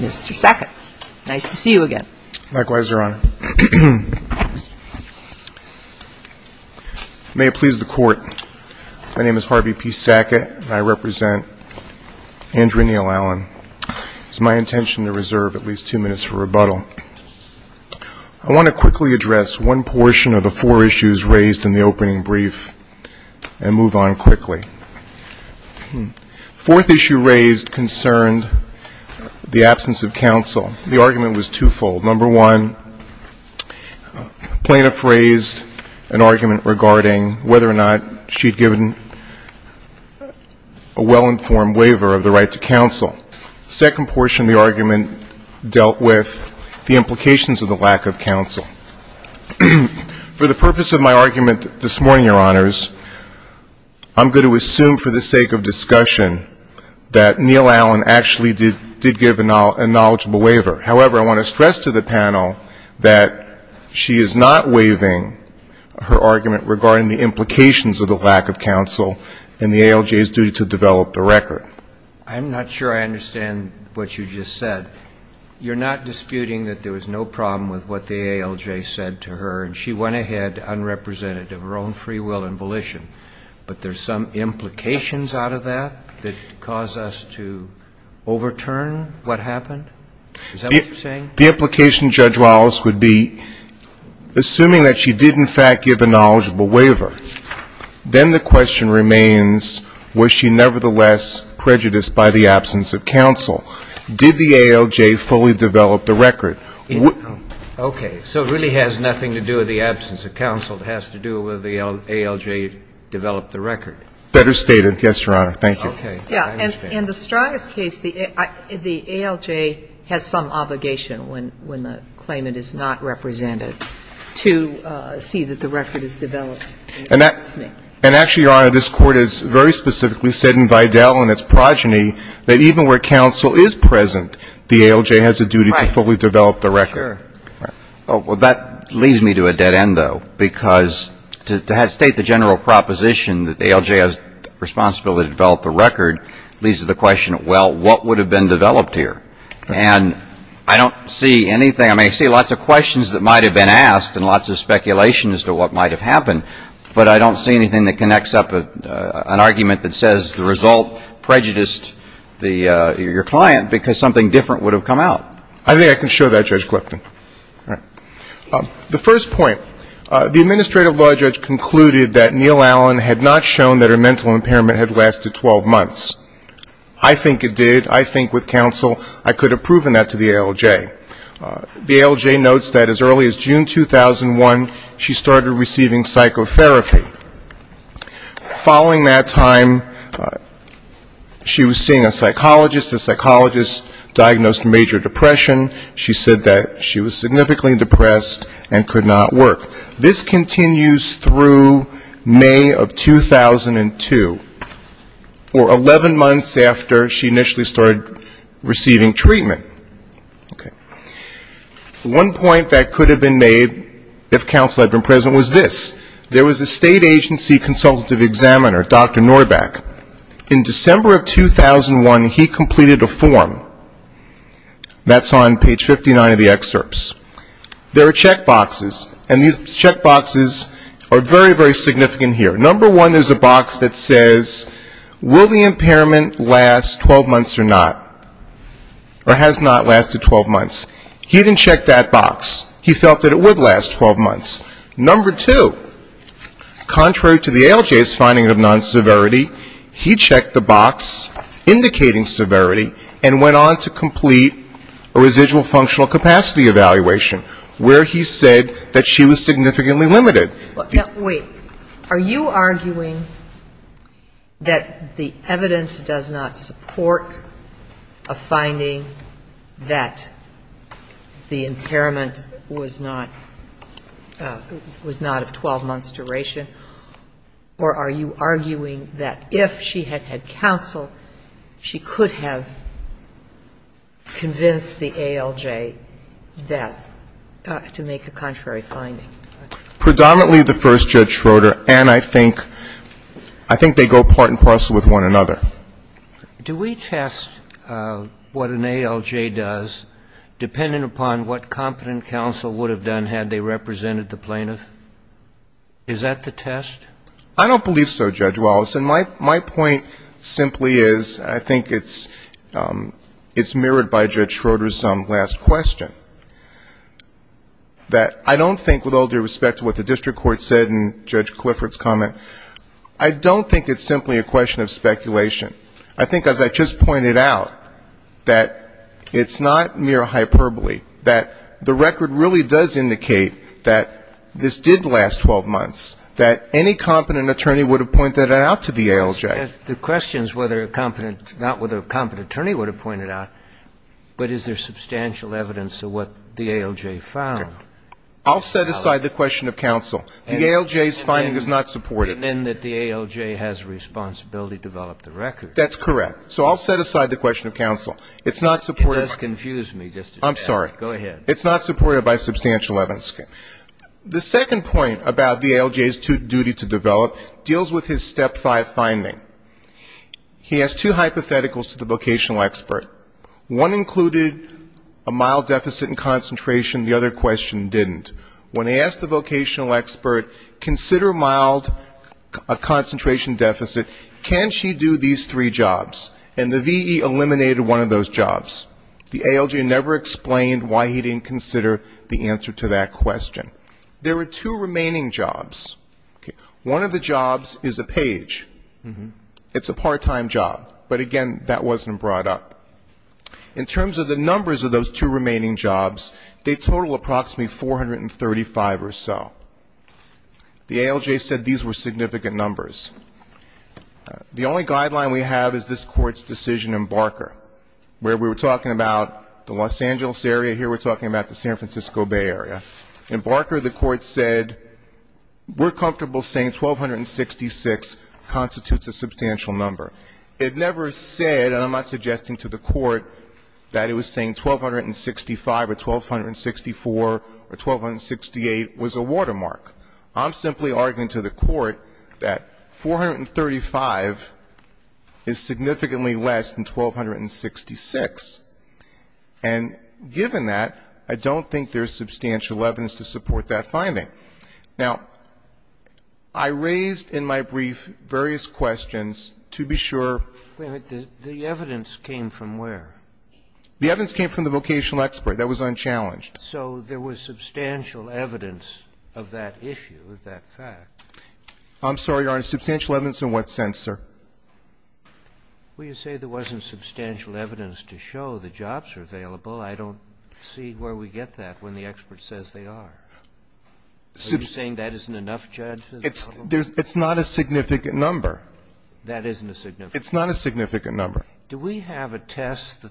Mr. Sackett, nice to see you again. Likewise, Your Honor. May it please the Court, my name is Harvey P. Sackett and I represent Andrew Neal-Allen. It's my intention to reserve at least two minutes for rebuttal. I want to quickly address one portion of the four issues raised in the opening brief and move on quickly. The fourth issue raised concerned the absence of counsel. The argument was twofold. Number one, plaintiff raised an argument regarding whether or not she'd given a well-informed waiver of the right to counsel. The second portion of the argument dealt with the implications of the lack of counsel. For the purpose of my argument this morning, Your Honors, I'm going to assume for the sake of discussion that Neal-Allen actually did give a knowledgeable waiver. However, I want to stress to the panel that she is not waiving her argument regarding the implications of the lack of counsel and the ALJ's duty to develop the record. I'm not sure I understand what you just said. You're not disputing that there was no problem with what the ALJ said to her and she went ahead unrepresentative of her own free will and volition, but there's some implications out of that that cause us to overturn what happened? Is that what you're saying? The implication, Judge Wallace, would be, assuming that she did in fact give a knowledgeable waiver, then the question remains, was she nevertheless prejudiced by the absence of counsel? Did the ALJ fully develop the record? Okay. So it really has nothing to do with the absence of counsel. It has to do with the ALJ develop the record. Better stated. Yes, Your Honor. Thank you. Okay. And the Stryis case, the ALJ has some obligation when the claimant is not represented to see that the record is developed. And actually, Your Honor, this Court has very specifically said in Vidal and its progeny that even where counsel is present, the ALJ has a duty to fully develop the record. Right. Sure. Well, that leads me to a dead end, though, because to state the general proposition that the ALJ has a responsibility to develop the record leads to the question, well, what would have been developed here? And I don't see anything. I mean, I see lots of questions that might have been asked and lots of speculation as to what might have happened, but I don't see anything that connects up an argument that says the result prejudiced your client because something different would have come out. I think I can show that, Judge Clifton. The first point, the administrative law judge concluded that Neal Allen had not shown that her mental impairment had lasted 12 months. I think it did. I think with counsel I could have proven that to the ALJ. The ALJ notes that as early as June 2001, she started receiving psychotherapy. Following that time, she was seeing a psychologist. The psychologist diagnosed major depression. She said that she was significantly depressed and could not work. This continues through May of 2002, or 11 months after she initially started receiving treatment. Okay. One point that could have been made if counsel had been present was this. There was a state agency consultative examiner, Dr. Norback. In December of 2001, he completed a form. That's on page 59 of the excerpts. There are checkboxes, and these checkboxes are very, very significant here. Number one is a box that says, will the impairment last 12 months or not, or has not lasted 12 months. He didn't check that box. He felt that it would last 12 months. Number two, contrary to the ALJ's finding of non-severity, he checked the box indicating severity and went on to complete a residual functional capacity evaluation, where he said that she was significantly limited. Wait. Are you arguing that the evidence does not support a finding that the impairment was not of 12-months duration, or are you arguing that if she had had counsel, she could have convinced the ALJ that to make a contrary finding? Predominantly the first, Judge Schroeder, and I think they go part and parcel with one another. Do we test what an ALJ does, depending upon what competent counsel would have done had they represented the plaintiff? Is that the test? I don't believe so, Judge Wallace. And my point simply is, I think it's mirrored by Judge Schroeder's last question, that I don't think, with all due respect to what the district court said and Judge Clifford's comment, I don't think it's simply a question of speculation. I think, as I just pointed out, that it's not mere hyperbole, that the record really does indicate that this did last 12 months, that any competent attorney would have pointed it out to the ALJ. The question is not whether a competent attorney would have pointed it out, but is there substantial evidence of what the ALJ found? I'll set aside the question of counsel. The ALJ's finding is not supported. And that the ALJ has a responsibility to develop the record. That's correct. So I'll set aside the question of counsel. It's not supported by the ALJ's duty to develop. It deals with his Step 5 finding. He has two hypotheticals to the vocational expert. One included a mild deficit in concentration. The other question didn't. When he asked the vocational expert, consider mild concentration deficit, can she do these three jobs? And the VE eliminated one of those jobs. The ALJ never explained why he didn't consider the answer to that question. There are two remaining jobs. One of the jobs is a page. It's a part-time job. But again, that wasn't brought up. In terms of the numbers of those two remaining jobs, they total approximately 435 or so. The ALJ said these were significant numbers. The only guideline we have is this Court's decision in Barker, where we were talking about the Los Angeles area. Here we're talking about the San Francisco Bay area. In Barker, the Court said we're comfortable saying 1,266 constitutes a substantial number. It never said, and I'm not suggesting to the Court that it was saying 1,265 or 1,264 or 1,268 was a watermark. I'm simply arguing to the Court that 435 is significantly less than 1,266, and given that, I don't think there's substantial evidence to support that finding. Now, I raised in my brief various questions to be sure. The evidence came from where? The evidence came from the vocational expert. That was unchallenged. So there was substantial evidence of that issue, of that fact. I'm sorry, Your Honor. Substantial evidence in what sense, sir? Well, you say there wasn't substantial evidence to show the jobs are available. I don't see where we get that when the expert says they are. Are you saying that isn't enough, Judge? It's not a significant number. That isn't a significant number. It's not a significant number. Do we have a test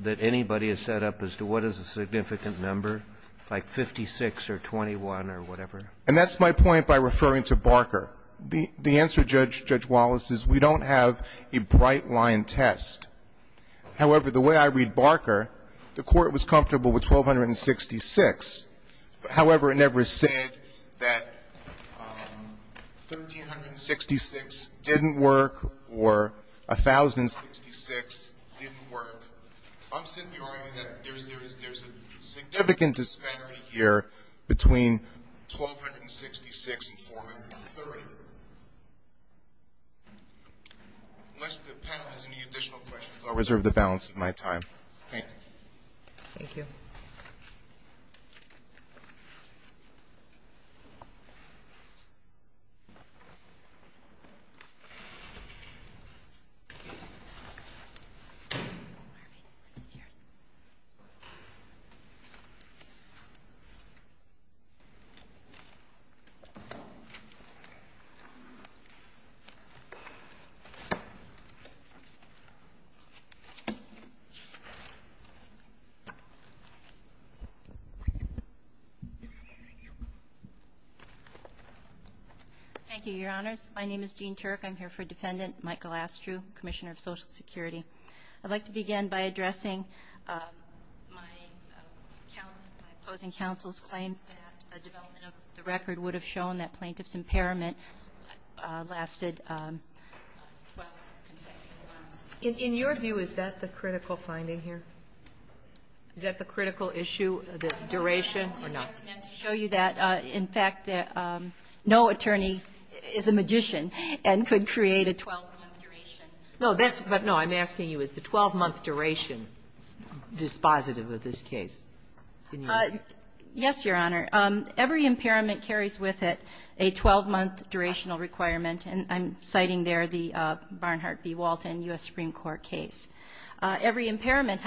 that anybody has set up as to what is a significant number, like 56 or 21 or whatever? And that's my point by referring to Barker. The answer, Judge Wallace, is we don't have a bright-line test. However, the way I read Barker, the Court was comfortable with 1,266. However, it never said that 1,366 didn't work or 1,066 didn't work. I'm simply arguing that there's a significant disparity here between 1,266 and 430. Unless the panel has any additional questions, I'll reserve the balance of my time. Thank you. Thank you, Your Honors. My name is Jean Turk. I'm here for Defendant Michael Astrew, Commissioner of Social Security. I'd like to begin by addressing my opposing counsel's claim that a development of the record would have shown that plaintiff's impairment lasted 12 consecutive months. In your view, is that the critical finding here? Is that the critical issue, the duration or not? I'm only addressing that to show you that, in fact, no attorney is a magician and could create a 12-month duration. No, that's what I'm asking you. Is the 12-month duration dispositive of this case? Yes, Your Honor. Every impairment carries with it a 12-month durational requirement, and I'm citing there the Barnhart v. Walton U.S. Supreme Court case. Every impairment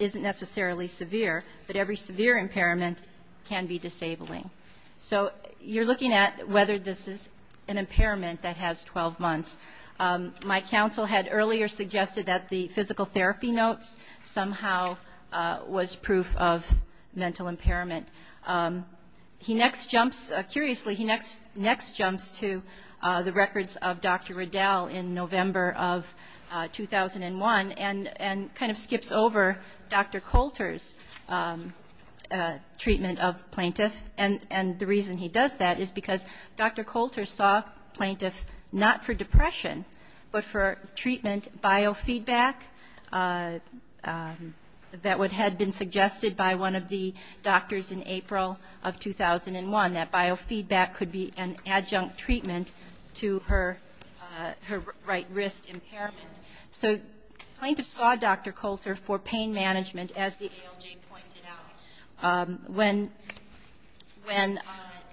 isn't necessarily severe, but every severe impairment can be disabling. So you're looking at whether this is an impairment that has 12 months. My counsel had earlier suggested that the physical therapy notes somehow was proof of mental impairment. He next jumps, curiously, he next jumps to the records of Dr. Riddell in November of 2001 and kind of skips over Dr. Coulter's treatment of plaintiff. And the reason he does that is because Dr. Coulter saw plaintiff not for depression, but for treatment biofeedback that had been suggested by one of the doctors in April of 2001, that biofeedback could be an adjunct treatment to her right wrist impairment. So plaintiff saw Dr. Coulter for pain management, as the ALJ pointed out. When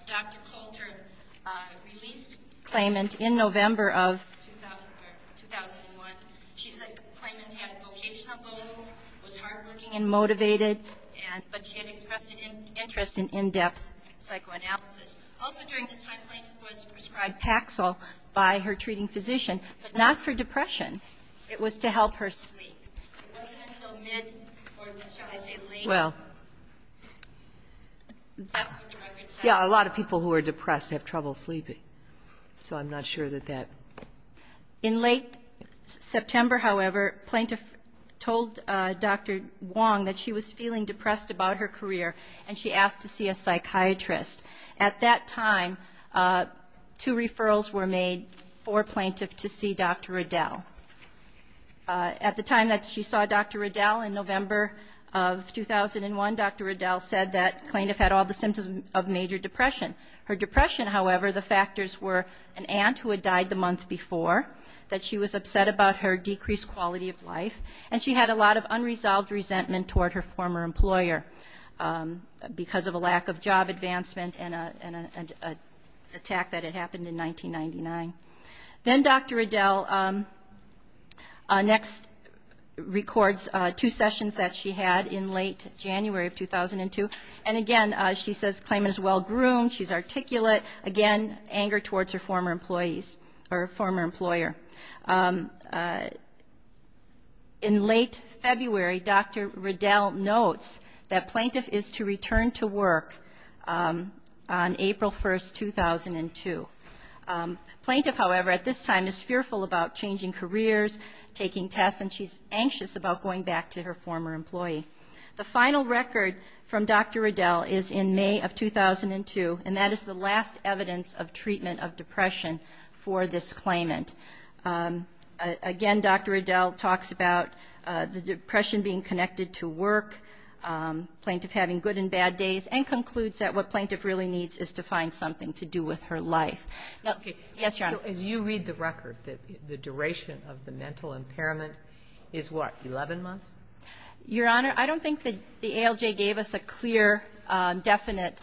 Dr. Coulter released claimant in November of 2001, she said claimant had vocational goals, was hardworking and motivated, but she had expressed an interest in in-depth psychoanalysis. Also during this time, plaintiff was prescribed Paxil by her doctor, shall I say, late. That's what the records say. Yeah, a lot of people who are depressed have trouble sleeping, so I'm not sure that that... In late September, however, plaintiff told Dr. Wong that she was feeling depressed about her career and she asked to see a psychiatrist. At that time, two referrals were made for her. In November of 2001, Dr. Riddell said that plaintiff had all the symptoms of major depression. Her depression, however, the factors were an aunt who had died the month before, that she was upset about her decreased quality of life, and she had a lot of unresolved resentment toward her former employer because of a lack of job advancement and an attack that had happened in 1999. Then Dr. Riddell next records two sessions that she had in late January of 2002, and again, she says claimant is well-groomed, she's articulate, again, anger towards her former employees or former employer. In late February, Dr. Riddell notes that plaintiff is to return to work on April 1st, 2002. Plaintiff, however, at this time is fearful about changing careers, taking tests, and she's anxious about going back to her former employee. The final record from Dr. Riddell is in May of 2002, and that is the last evidence of treatment of depression for this claimant. Again, Dr. Riddell talks about the depression being connected to work, plaintiff having good and bad days, and concludes that what plaintiff really needs is to find something to do with her life. Now, as you read the record, the duration of the mental impairment is what, 11 months? Your Honor, I don't think that the ALJ gave us a clear, definite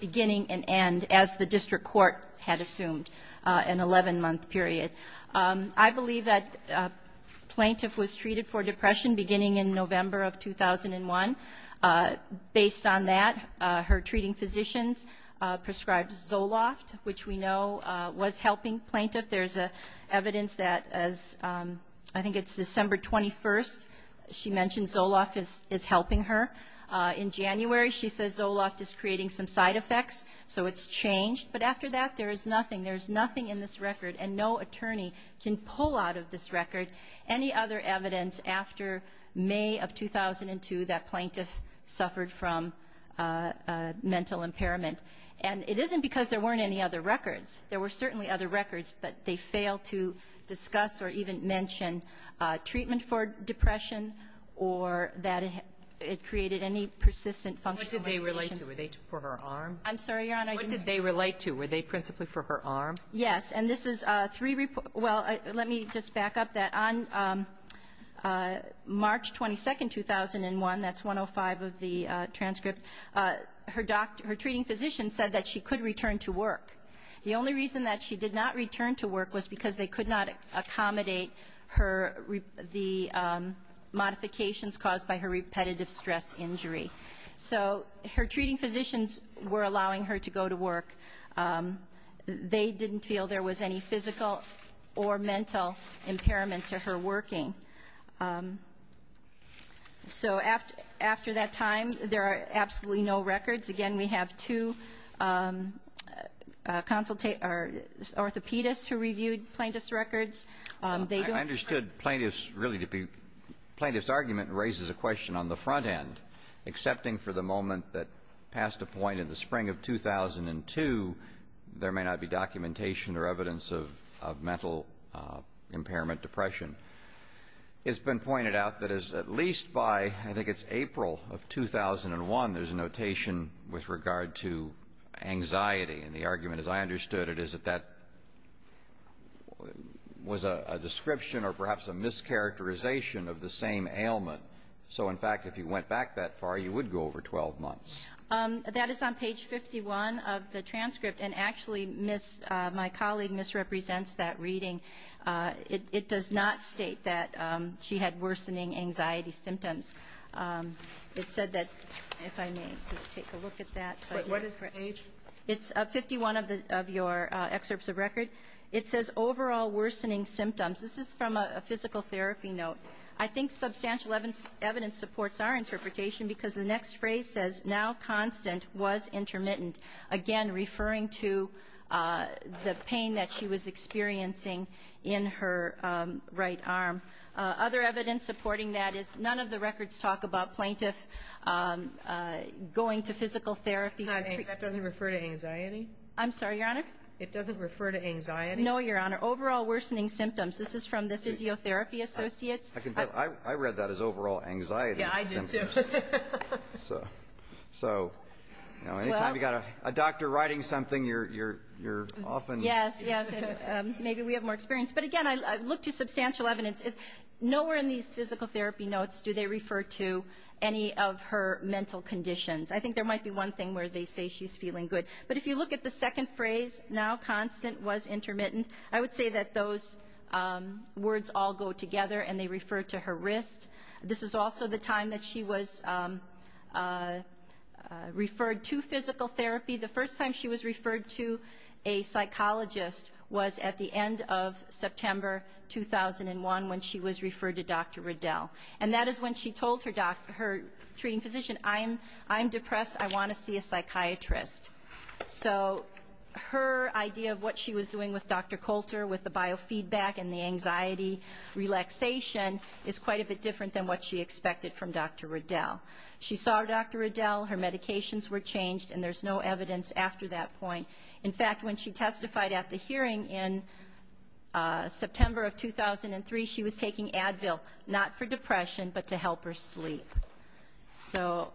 beginning and end, as the district court had assumed, an 11-month period. I believe that plaintiff was treated for depression beginning in November of 2001. Based on that, her treating physicians prescribed Zoloft, which we know was helping plaintiff. There's evidence that as, I think it's December 21st, she mentioned Zoloft is helping her. In January, she says Zoloft is creating some side effects, so it's changed. But after that, there is nothing. There is nothing in this after May of 2002 that plaintiff suffered from mental impairment. And it isn't because there weren't any other records. There were certainly other records, but they failed to discuss or even mention treatment for depression or that it created any persistent functional conditions. What did they relate to? Were they for her arm? I'm sorry, Your Honor, I didn't hear you. Yes. And this is three, well, let me just back up that. On March 22nd, 2001, that's 105 of the transcript, her treating physician said that she could return to work. The only reason that she did not return to work was because they could not accommodate the modifications caused by her repetitive stress injury. So her treating physicians were allowing her to go to work. They didn't feel there was any physical or mental impairment to her working. So after that time, there are absolutely no records. Again, we have two orthopedists who reviewed plaintiff's records. I understood plaintiff's argument raises a question on the front end, excepting for the 2002, there may not be documentation or evidence of mental impairment depression. It's been pointed out that at least by, I think it's April of 2001, there's a notation with regard to anxiety. And the argument, as I understood it, is that that was a description or perhaps a mischaracterization of the same ailment. So in fact, if you went back that far, you would go over 12 months. That is on page 51 of the transcript. And actually, my colleague misrepresents that reading. It does not state that she had worsening anxiety symptoms. It said that, if I may just take a look at that. What is the page? It's 51 of your excerpts of record. It says overall worsening symptoms. This is from a physical therapy note. I think substantial evidence supports our interpretation because the next phrase says, now constant was intermittent. Again, referring to the pain that she was experiencing in her right arm. Other evidence supporting that is none of the records talk about plaintiff going to physical therapy. That doesn't refer to anxiety? I'm sorry, Your Honor? It doesn't refer to anxiety? No, Your Honor. Overall worsening symptoms. This is from the physiotherapy associates. I read that as overall anxiety symptoms. Yeah, I did too. So, any time you've got a doctor writing something, you're often... Yes, yes. Maybe we have more experience. But again, I look to substantial evidence. Nowhere in these physical therapy notes do they refer to any of her mental conditions. I think there might be one thing where they say she's feeling good. But if you look at the second phrase, now constant was intermittent, I would say that those words all go together and they also the time that she was referred to physical therapy. The first time she was referred to a psychologist was at the end of September 2001 when she was referred to Dr. Riddell. And that is when she told her treating physician, I'm depressed. I want to see a psychiatrist. So her idea of what she was doing with Dr. Coulter with the biofeedback and the anxiety relaxation is quite a bit different than what she expected from Dr. Riddell. She saw Dr. Riddell, her medications were changed, and there's no evidence after that point. In fact, when she testified at the hearing in September of 2003, she was taking Advil, not for depression, but to help her sleep. So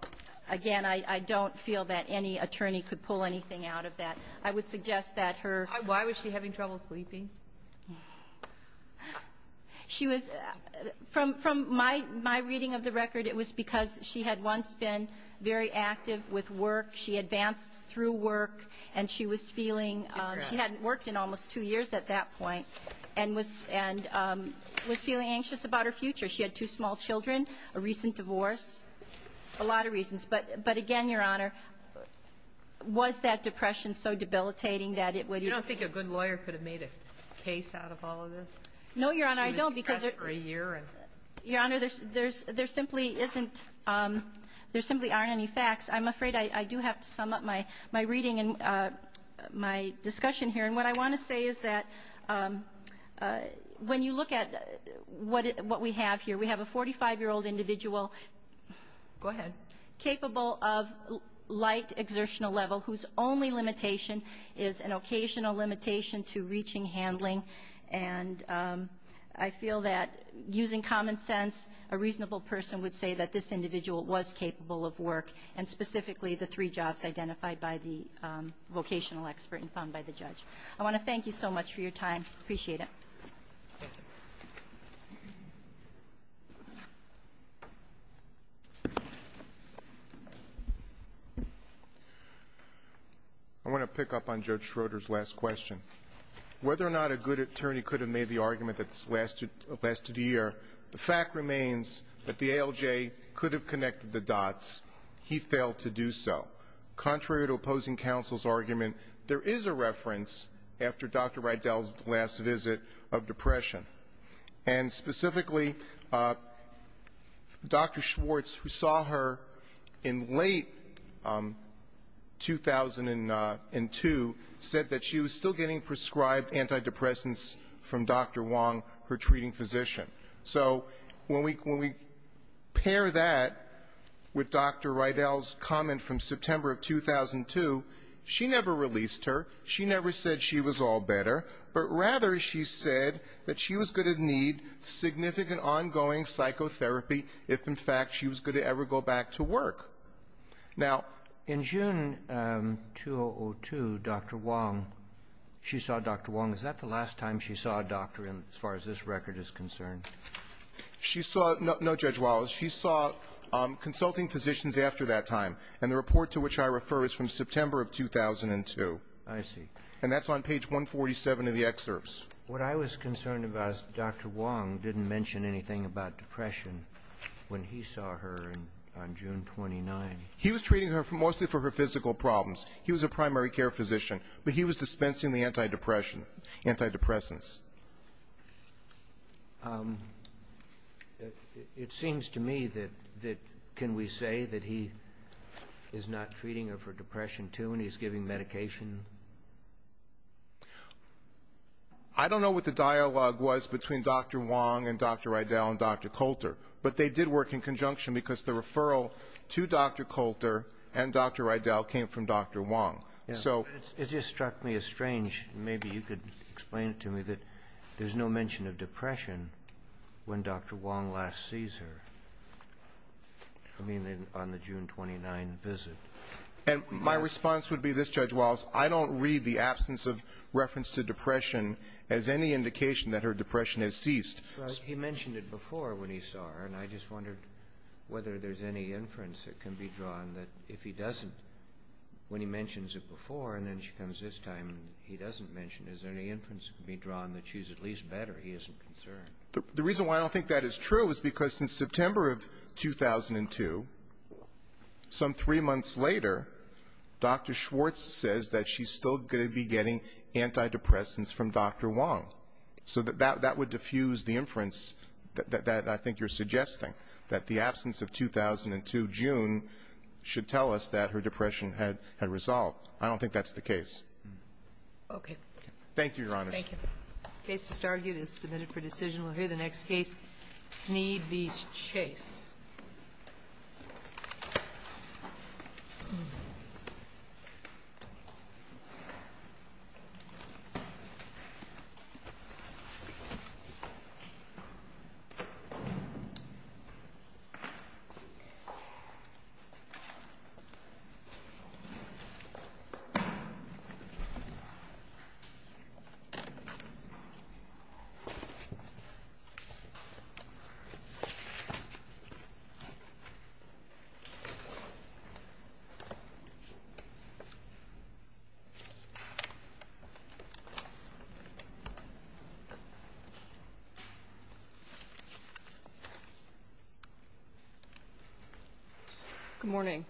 again, I don't feel that any attorney could pull anything out of that. I would suggest that her... She was... From my reading of the record, it was because she had once been very active with work. She advanced through work and she was feeling... She hadn't worked in almost two years at that point and was feeling anxious about her future. She had two small children, a recent divorce, a lot of reasons. But again, Your Honor, was that depression so debilitating that it would... You don't think a good lawyer could have made a case out of all of this? No, Your Honor, I don't because... She was depressed for a year and... Your Honor, there simply aren't any facts. I'm afraid I do have to sum up my reading and my discussion here. And what I want to say is that when you look at what we have here, we have a 45-year-old individual capable of light exertional level whose only limitation is an occasional limitation to reaching handling. And I feel that using common sense, a reasonable person would say that this individual was capable of work, and specifically the three jobs identified by the vocational expert and found by the judge. I want to thank you so much for your time. Appreciate it. I want to pick up on Judge Schroeder's last question. Whether or not a good attorney could have made the argument that this lasted a year, the fact remains that the ALJ could have connected the dots. He failed to do so. Contrary to opposing counsel's argument, there is a limitation. And specifically, Dr. Schwartz, who saw her in late 2002, said that she was still getting prescribed antidepressants from Dr. Wong, her treating physician. So when we pair that with Dr. Rydell's comment from September of 2002, she never released her. She never said she was all better. But rather, she said that she was going to need significant ongoing psychotherapy if, in fact, she was going to ever go back to work. Now ---- In June 2002, Dr. Wong, she saw Dr. Wong. Is that the last time she saw a doctor as far as this record is concerned? She saw no Judge Wallace. She saw consulting physicians after that time. And the report to which I refer is from September of 2002. I see. And that's on page 147 of the excerpts. What I was concerned about is Dr. Wong didn't mention anything about depression when he saw her on June 29. He was treating her mostly for her physical problems. He was a primary care physician. But he was dispensing the antidepressants. It seems to me that can we say that he is not treating her for depression, too, and he's giving medication? I don't know what the dialogue was between Dr. Wong and Dr. Rydell and Dr. Coulter. But they did work in conjunction because the referral to Dr. Coulter and Dr. Rydell came from Dr. Wong. It just struck me as strange. Maybe you could explain it to me that there's no mention of depression when Dr. Wong last sees her. I mean, on the June 29 visit. And my response would be this, Judge Walz. I don't read the absence of reference to depression as any indication that her depression has ceased. But he mentioned it before when he saw her. And I just wondered whether there's any inference that can be drawn that if he doesn't, when he mentions it before and then she comes this time and he doesn't mention it, is there any inference that can be drawn that she's at least better? He isn't concerned. The reason why I don't think that is true is because since September of 2002, some three months later, Dr. Schwartz says that she's still going to be getting antidepressants from Dr. Wong. So that would diffuse the inference that I think you're suggesting, that the absence of 2002 June should tell us that her depression had resolved. I don't think that's the case. Okay. Thank you, Your Honor. Thank you. The case just argued is submitted for decision. We'll hear the next case, Snead v. Chase. Thank you. Good morning.